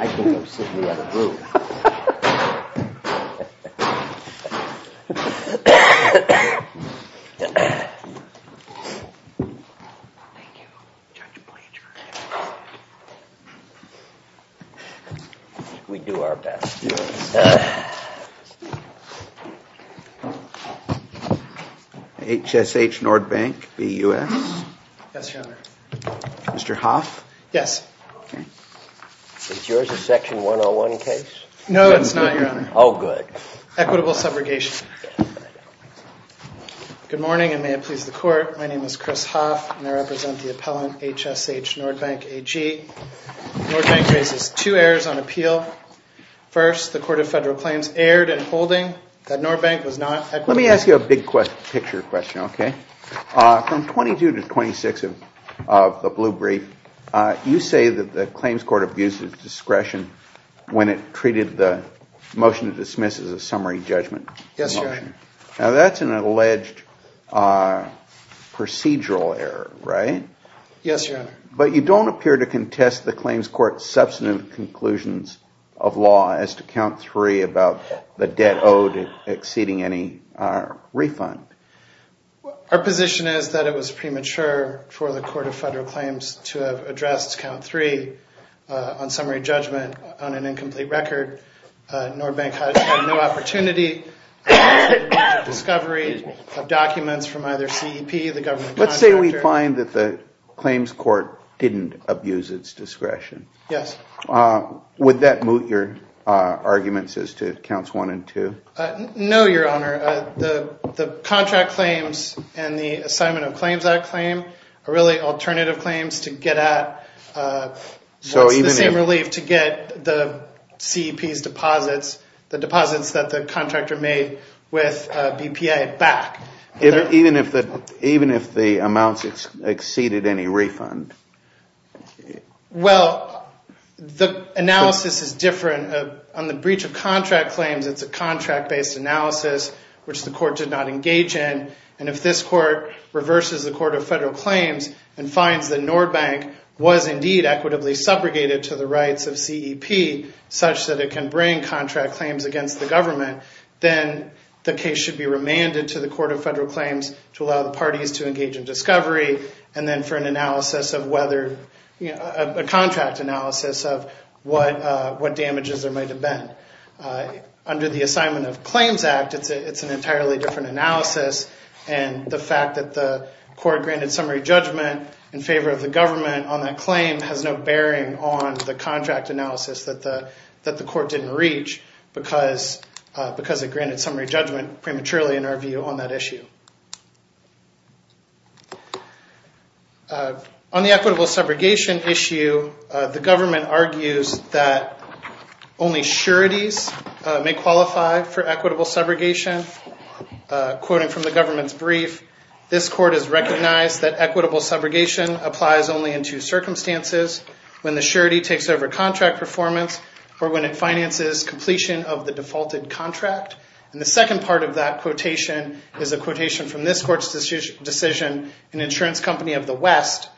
I think I'm sitting in the wrong room. We do our best. HSH Nordbank, BUS? Yes, Your Honor. Mr. Hoff? Yes. Is yours a Section 101 case? No, it's not, Your Honor. Oh, good. Equitable subrogation. Good morning, and may it please the Court. My name is Chris Hoff, and I represent the appellant, HSH Nordbank AG. Nordbank raises two errors on appeal. First, the Court of Federal Claims erred in holding that Nordbank was not equitable. Let me ask you a big-picture question, okay? From 22 to 26 of the blue brief, you say that the claims court abused its discretion when it treated the motion to dismiss as a summary judgment motion. Yes, Your Honor. Now, that's an alleged procedural error, right? Yes, Your Honor. But you don't appear to contest the claims court's substantive conclusions of law as to Count 3 about the debt owed exceeding any refund. Our position is that it was premature for the Court of Federal Claims to have addressed Count 3 on summary judgment on an incomplete record. Nordbank has had no opportunity for discovery of documents from either CEP, the government contractor. Let's say we find that the claims court didn't abuse its discretion. Yes. Would that moot your arguments as to Counts 1 and 2? No, Your Honor. The contract claims and the assignment of claims that claim are really alternative claims to get at. It's the same relief to get the CEP's deposits, the deposits that the contractor made with BPA back. Even if the amounts exceeded any refund? Well, the analysis is different. On the breach of contract claims, it's a contract-based analysis, which the court did not engage in. And if this court reverses the Court of Federal Claims and finds that Nordbank was indeed equitably subrogated to the rights of CEP, such that it can bring contract claims against the government, then the case should be remanded to the Court of Federal Claims to allow the parties to engage in discovery and then for a contract analysis of what damages there might have been. Under the Assignment of Claims Act, it's an entirely different analysis, and the fact that the court granted summary judgment in favor of the government on that claim has no bearing on the contract analysis that the court didn't reach because it granted summary judgment prematurely, in our view, on that issue. On the equitable subrogation issue, the government argues that only sureties may qualify for equitable subrogation. Quoting from the government's brief, this court has recognized that equitable subrogation applies only in two circumstances, when the surety takes over contract performance or when it finances completion of the defaulted contract. And the second part of that quotation is a quotation from this court's decision in Insurance Company of the West,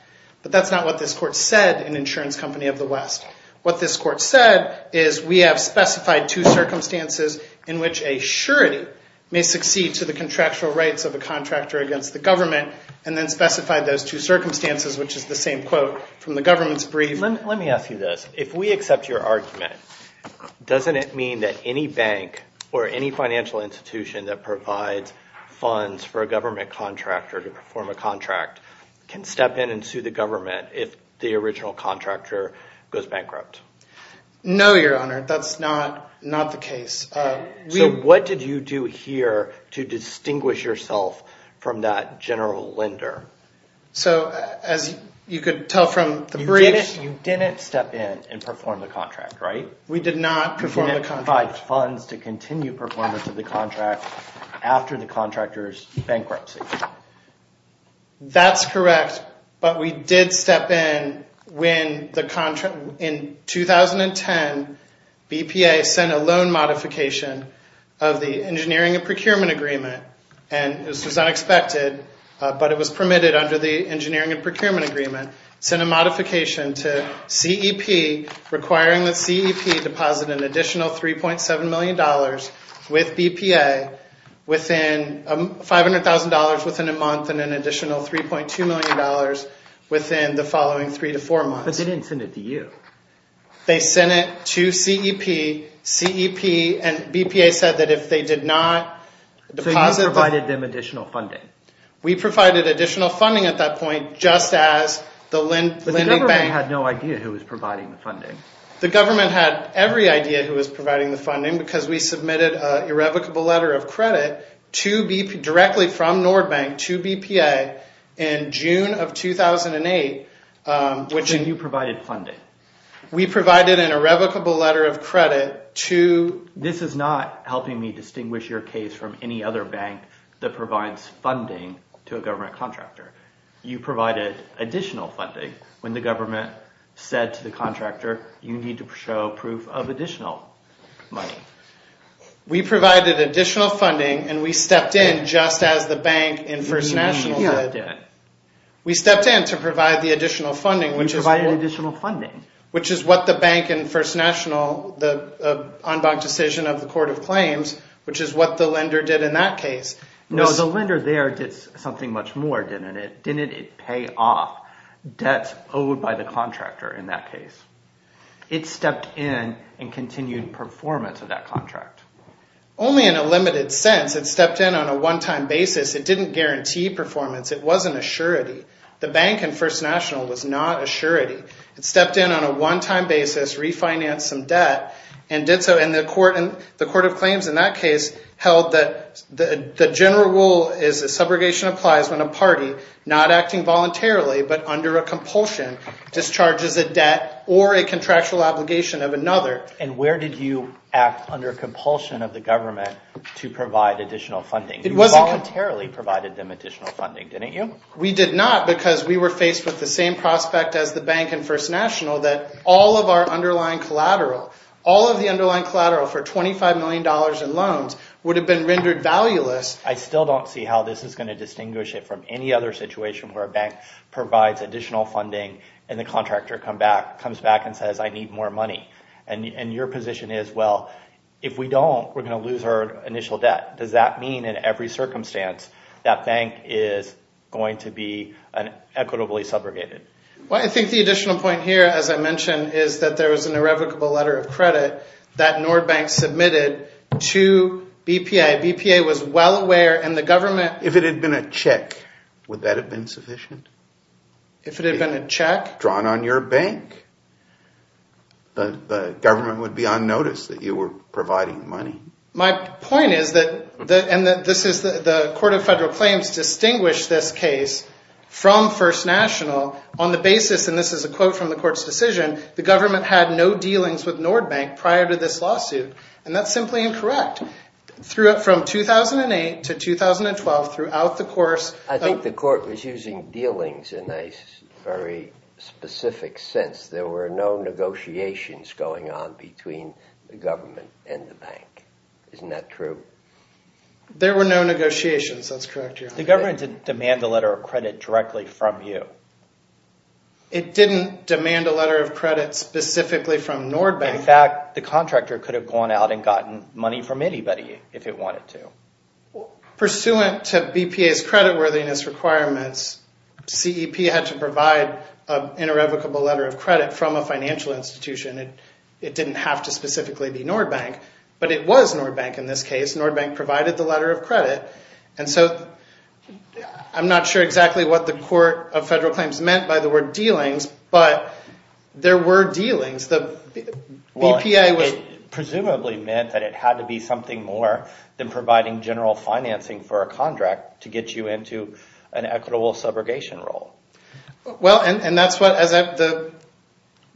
but that's not what this court said in Insurance Company of the West. What this court said is we have specified two circumstances in which a surety may succeed to the contractual rights of a contractor against the government, and then specified those two circumstances, which is the same quote from the government's brief. Let me ask you this. If we accept your argument, doesn't it mean that any bank or any financial institution that provides funds for a government contractor to perform a contract can step in and sue the government if the original contractor goes bankrupt? No, Your Honor. That's not the case. So what did you do here to distinguish yourself from that general lender? You didn't step in and perform the contract, right? We did not perform the contract. You didn't provide funds to continue performance of the contract after the contractor's bankruptcy. That's correct, but we did step in when in 2010, BPA sent a loan modification of the Engineering and Procurement Agreement, and this was unexpected, but it was permitted under the Engineering and Procurement Agreement. It sent a modification to CEP requiring that CEP deposit an additional $3.7 million with BPA within $500,000 within a month and an additional $3.2 million within the following three to four months. But they didn't send it to you. They sent it to CEP, and BPA said that if they did not deposit... So you provided them additional funding. We provided additional funding at that point, just as the Linnick Bank... But the government had no idea who was providing the funding. The government had every idea who was providing the funding because we submitted an irrevocable letter of credit directly from Nordbank to BPA in June of 2008. And you provided funding. We provided an irrevocable letter of credit to... This is not helping me distinguish your case from any other bank that provides funding to a government contractor. You provided additional funding when the government said to the contractor, you need to show proof of additional money. We provided additional funding, and we stepped in just as the bank in First National did. We stepped in to provide the additional funding, which is what the bank in First National, the en banc decision of the Court of Claims, which is what the lender did in that case. No, the lender there did something much more, didn't it? Didn't it pay off debts owed by the contractor in that case? It stepped in and continued performance of that contract. Only in a limited sense. It stepped in on a one-time basis. It didn't guarantee performance. It wasn't a surety. The bank in First National was not a surety. It stepped in on a one-time basis, refinanced some debt, and did so. And the Court of Claims in that case held that the general rule is that subrogation applies when a party, not acting voluntarily but under a compulsion, discharges a debt or a contractual obligation of another. And where did you act under compulsion of the government to provide additional funding? You voluntarily provided them additional funding, didn't you? We did not, because we were faced with the same prospect as the bank in First National that all of our underlying collateral, all of the underlying collateral for $25 million in loans, would have been rendered valueless. I still don't see how this is going to distinguish it from any other situation where a bank provides additional funding and the contractor comes back and says, I need more money. And your position is, well, if we don't, we're going to lose our initial debt. Does that mean in every circumstance that bank is going to be equitably subrogated? I think the additional point here, as I mentioned, is that there was an irrevocable letter of credit that Nord Bank submitted to BPA. BPA was well aware and the government... If it had been a check, would that have been sufficient? If it had been a check? Drawn on your bank, the government would be unnoticed that you were providing money. My point is that the Court of Federal Claims distinguished this case from First National on the basis, and this is a quote from the court's decision, the government had no dealings with Nord Bank prior to this lawsuit. And that's simply incorrect. From 2008 to 2012, throughout the course... I think the court was using dealings in a very specific sense. There were no negotiations going on between the government and the bank. Isn't that true? There were no negotiations. The government didn't demand a letter of credit directly from you. It didn't demand a letter of credit specifically from Nord Bank. In fact, the contractor could have gone out and gotten money from anybody if it wanted to. Pursuant to BPA's creditworthiness requirements, CEP had to provide an irrevocable letter of credit from a financial institution. It didn't have to specifically be Nord Bank, but it was Nord Bank in this case. Nord Bank provided the letter of credit. I'm not sure exactly what the Court of Federal Claims meant by the word dealings, but there were dealings. Presumably meant that it had to be something more than providing general financing for a contract to get you into an equitable subrogation role. Well, and that's what...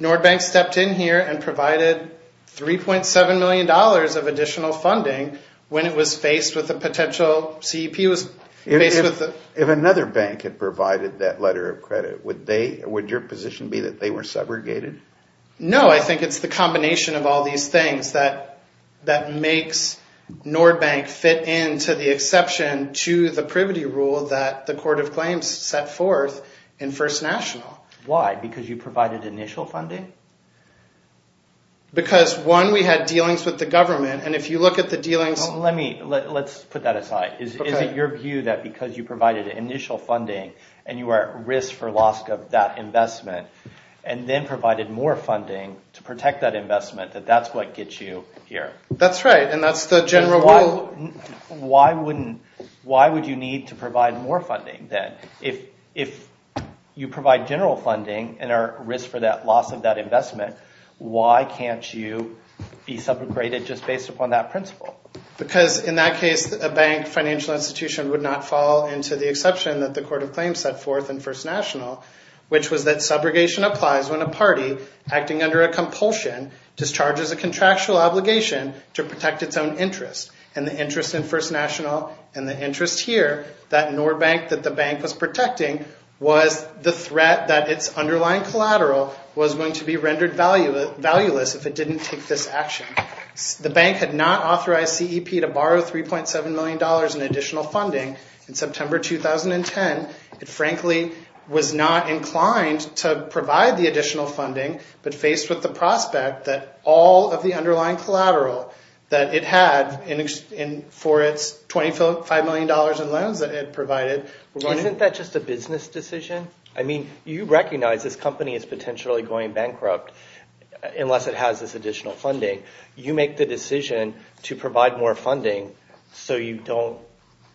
Nord Bank stepped in here and provided $3.7 million of additional funding when it was faced with a potential... CEP was faced with... If another bank had provided that letter of credit, would your position be that they were subrogated? No, I think it's the combination of all these things that makes Nord Bank fit into the exception to the privity rule that the Court of Claims set forth in First National. Why? Because you provided initial funding? Because, one, we had dealings with the government, and if you look at the dealings... Let's put that aside. Is it your view that because you provided initial funding and you were at risk for loss of that investment and then provided more funding to protect that investment, that that's what gets you here? That's right, and that's the general rule. Why would you need to provide more funding, then? If you provide general funding and are at risk for that loss of that investment, why can't you be subrogated just based upon that principle? Because in that case, a bank financial institution would not fall into the exception that the Court of Claims set forth in First National, which was that subrogation applies when a party acting under a compulsion discharges a contractual obligation to protect its own interest, and the interest in First National and the interest here, that Nord Bank that the bank was protecting, was the threat that its underlying collateral was going to be rendered valueless if it didn't take this action. The bank had not authorized CEP to borrow $3.7 million in additional funding in September 2010. It frankly was not inclined to provide the additional funding, but faced with the prospect that all of the underlying collateral that it had for its $25 million in loans that it provided... Isn't that just a business decision? I mean, you recognize this company is potentially going bankrupt unless it has this additional funding. You make the decision to provide more funding so you don't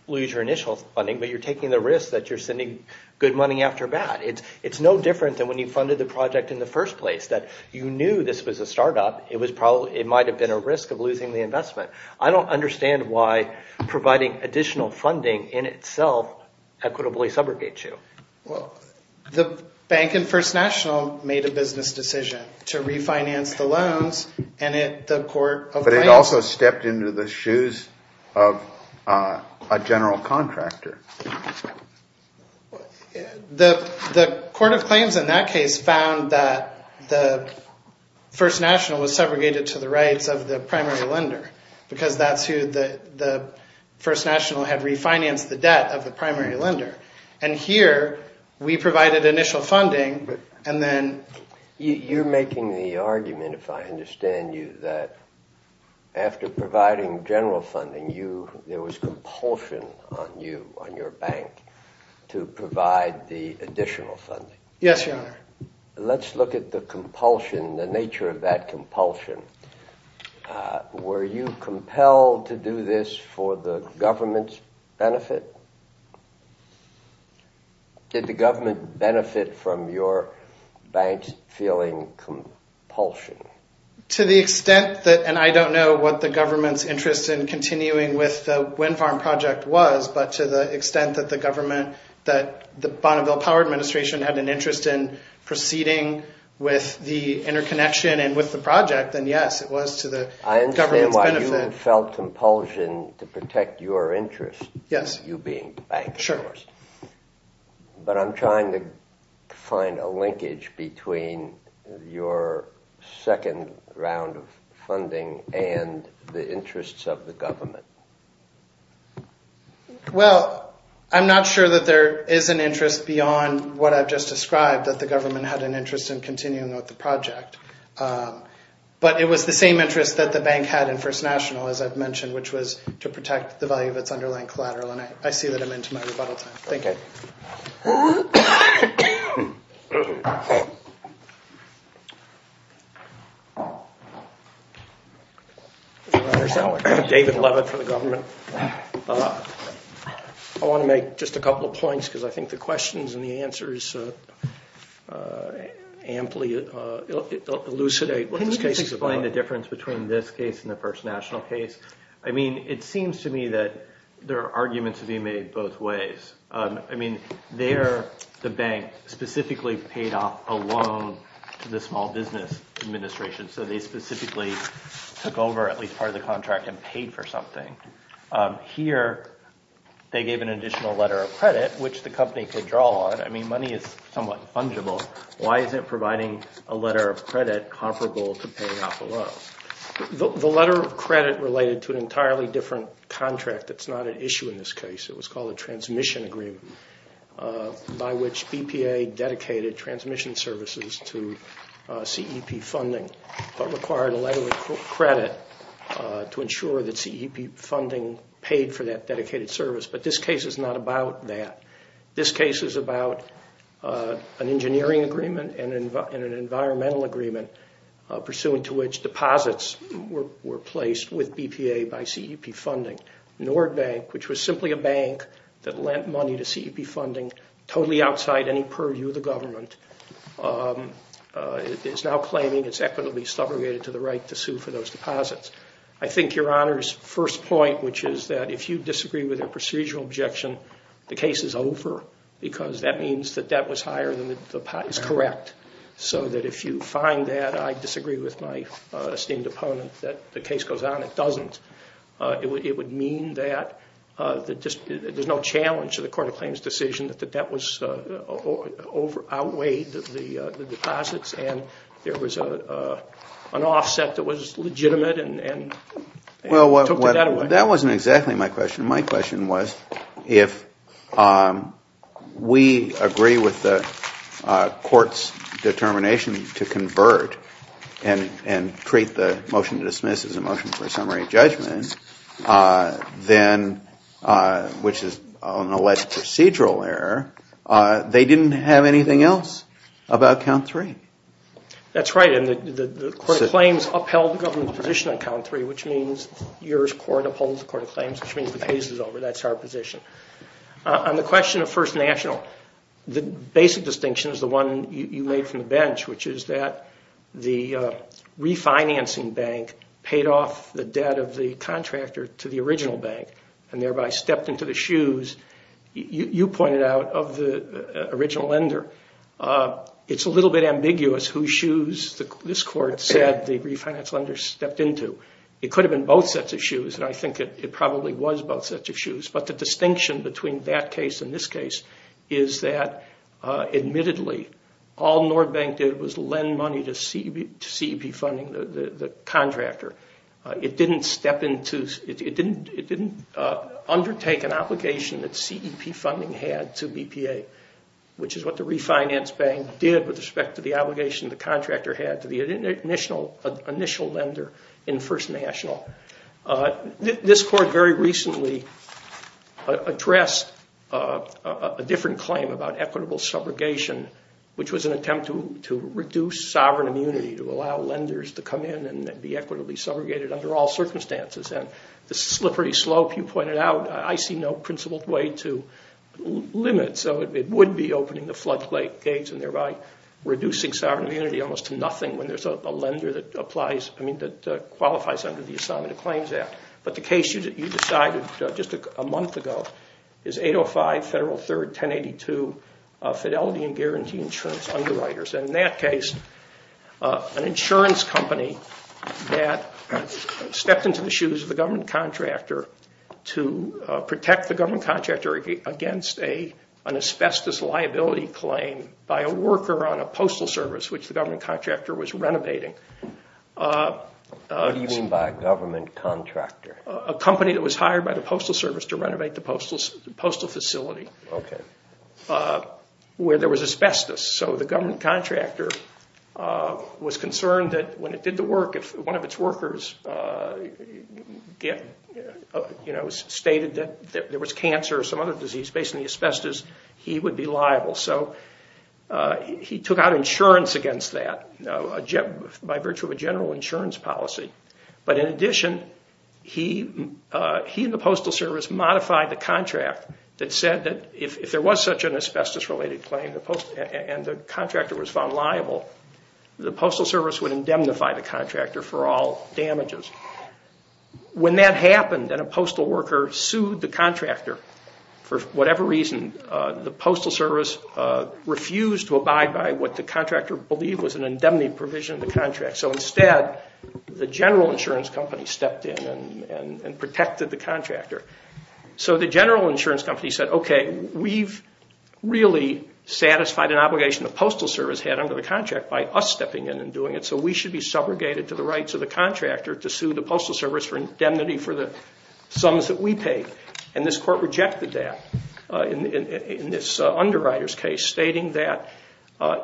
lose your initial funding, but you're taking the risk that you're sending good money after bad. It's no different than when you funded the project in the first place, that you knew this was a startup. It might have been a risk of losing the investment. I don't understand why providing additional funding in itself equitably subrogates you. The bank and First National made a business decision to refinance the loans, and the Court of Claims... But it also stepped into the shoes of a general contractor. The Court of Claims in that case found that the First National was segregated to the rights of the primary lender, because that's who the First National had refinanced the debt of the primary lender. And here, we provided initial funding, and then... You're making the argument, if I understand you, that after providing general funding, there was compulsion on you, on your bank, to provide the additional funding. Yes, Your Honor. Let's look at the nature of that compulsion. Were you compelled to do this for the government's benefit? Did the government benefit from your bank's feeling compulsion? To the extent that... And I don't know what the government's interest in continuing with the Wind Farm Project was, but to the extent that the Bonneville Power Administration had an interest in proceeding with the interconnection and with the project, then yes, it was to the government's benefit. I understand why you felt compulsion to protect your interest, you being the banker. But I'm trying to find a linkage between your second round of funding and the interests of the government. Well, I'm not sure that there is an interest beyond what I've just described, that the government had an interest in continuing with the project. But it was the same interest that the bank had in First National, as I've mentioned, which was to protect the value of its underlying collateral. I see that I'm into my rebuttal time. I want to make just a couple of points, because I think the questions and the answers amply elucidate what this case is about. To explain the difference between this case and the First National case, it seems to me that there are arguments to be made both ways. There, the bank specifically paid off a loan to the Small Business Administration, so they specifically took over at least part of the contract and paid for something. Here, they gave an additional letter of credit, which the company could draw on. I mean, money is somewhat fungible. Why is it providing a letter of credit comparable to paying off a loan? The letter of credit related to an entirely different contract that's not at issue in this case. It was called a transmission agreement, by which BPA dedicated transmission services to CEP funding, but required a letter of credit to ensure that CEP funding paid for that dedicated service. But this case is not about that. This case is about an engineering agreement and an environmental agreement, pursuant to which deposits were placed with BPA by CEP funding. Nord Bank, which was simply a bank that lent money to CEP funding, totally outside any purview of the government, is now claiming it's equitably subrogated to the right to sue for those deposits. I think Your Honor's first point, which is that if you disagree with their procedural objection, the case is over, because that means that debt was higher than the pot is correct. So that if you find that, I disagree with my esteemed opponent, that the case goes on. It doesn't. It would mean that there's no challenge to the Court of Claims' decision that the debt outweighed the deposits and there was an offset that was legitimate and took that away. Well, that wasn't exactly my question. My question was, if we agree with the Court's determination to convert and treat the motion to dismiss as a motion for summary judgment, then, which is an alleged procedural error, they didn't have anything else about count three. That's right. And the Court of Claims upheld the government's position on count three, which means yours court upholds the Court of Claims, which means the case is over. That's our position. On the question of First National, the basic distinction is the one you made from the bench, which is that the refinancing bank paid off the debt of the contractor to the original bank and thereby stepped into the shoes, you pointed out, of the original lender. It's a little bit ambiguous whose shoes this court said the refinance lender stepped into. It could have been both sets of shoes, and I think it probably was both sets of shoes, but the distinction between that case and this case is that, admittedly, all Nord Bank did was lend money to CEP funding the contractor. It didn't undertake an obligation that CEP funding had to BPA, which is what the refinance bank did with respect to the obligation the contractor had to the initial lender in First National. This court very recently addressed a different claim about equitable subrogation which was an attempt to reduce sovereign immunity, to allow lenders to come in and be equitably subrogated under all circumstances. The slippery slope you pointed out, I see no principled way to limit, so it would be opening the floodgates and thereby reducing sovereign immunity almost to nothing when there's a lender that qualifies under the Assignment of Claims Act. But the case you decided just a month ago is 805 Federal 3rd 1082 Fidelity and Guarantee Insurance Underwriters. In that case, an insurance company that stepped into the shoes of the government contractor to protect the government contractor against an asbestos liability claim by a worker on a postal service, which the government contractor was renovating. What do you mean by a government contractor? A company that was hired by the postal service to renovate the postal facility where there was asbestos. So the government contractor was concerned that when it did the work, if one of its workers stated that there was cancer or some other disease based on the asbestos, he would be liable. So he took out insurance against that by virtue of a general insurance policy. But in addition, he and the postal service modified the contract that said that if there was such an asbestos related claim and the contractor was found liable, the postal service would indemnify the contractor for all damages. When that happened and a postal worker sued the contractor for whatever reason, the postal service refused to abide by what the contractor believed was an indemnity provision of the contract. So instead, the general insurance company stepped in and protected the contractor. So the general insurance company said, okay, we've really satisfied an obligation the postal service had under the contract by us stepping in and doing it, so we should be subrogated to the rights of the contractor to sue the postal service for indemnity for the sums that we paid. And this court rejected that in this underwriter's case, stating that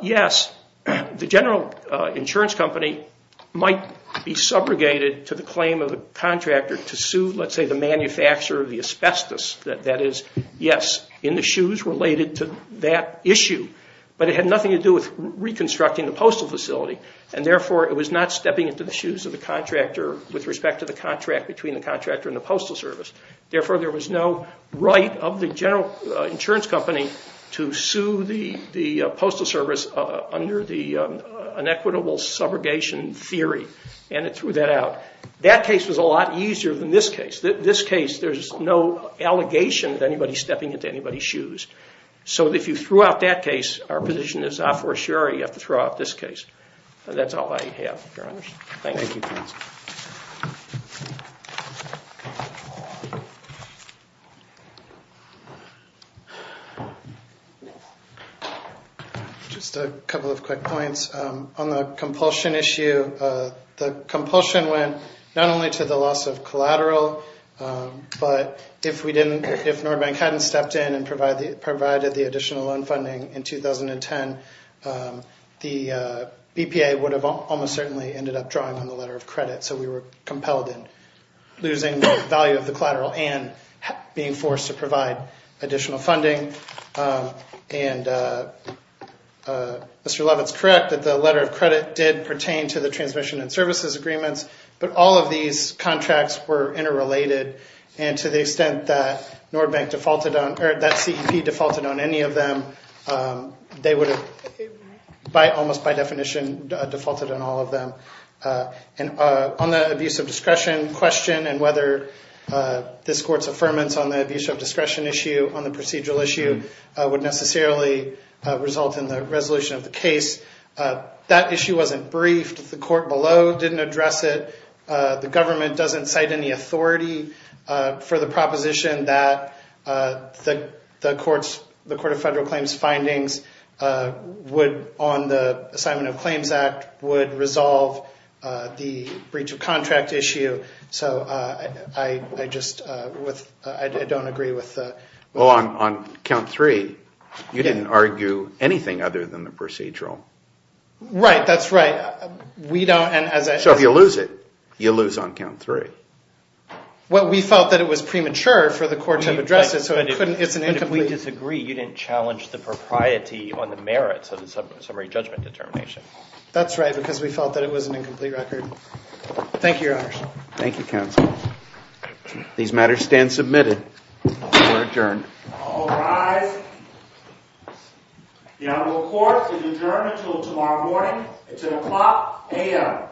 yes, the general insurance company might be subrogated to the claim of the contractor to sue, let's say, the manufacturer of the asbestos. That is, yes, in the shoes related to that issue. But it had nothing to do with reconstructing the postal facility, and therefore it was not stepping into the shoes of the contractor with respect to the contract between the contractor and the postal service. Therefore, there was no right of the general insurance company to sue the postal service under an equitable subrogation theory, and it threw that out. That case was a lot easier than this case. In this case, there's no allegation that anybody's stepping into anybody's shoes. So if you threw out that case, our position is, ah, for sure, you have to throw out this case. That's all I have, Your Honors. Thank you. Just a couple of quick points. On the compulsion issue, the compulsion went not only to the loss of collateral, but if Norbank hadn't stepped in and provided the additional loan funding in 2010, the BPA would have almost certainly ended up drawing on the letter of credit. So we were compelled in losing both value of the collateral and being forced to provide additional funding. And Mr. Leavitt's correct that the letter of credit did pertain to the transmission and services agreements, but all of these contracts were interrelated. And to the extent that Norbank defaulted on, or that CEP defaulted on any of them, they would have almost by definition defaulted on all of them. And on the abuse of discretion question and whether this court's affirmance on the abuse of discretion issue, on the procedural issue, would necessarily result in the resolution of the case. That issue wasn't briefed. The court below didn't address it. The government doesn't cite any authority for the proposition that the Court of Federal Claims findings on the Assignment of Claims Act would resolve the breach of contract issue. I don't agree with that. On count three, you didn't argue anything other than the procedural. Right, that's right. So if you lose it, you lose on count three. Well, we felt that it was premature for the court to have addressed it, so it's an incomplete. But if we disagree, you didn't challenge the propriety on the merits of the summary judgment determination. That's right, because we felt that it was an incomplete record. Thank you, Your Honor. Thank you, counsel. These matters stand submitted. We're adjourned. All rise. The Honorable Court is adjourned until tomorrow morning at 10 o'clock a.m.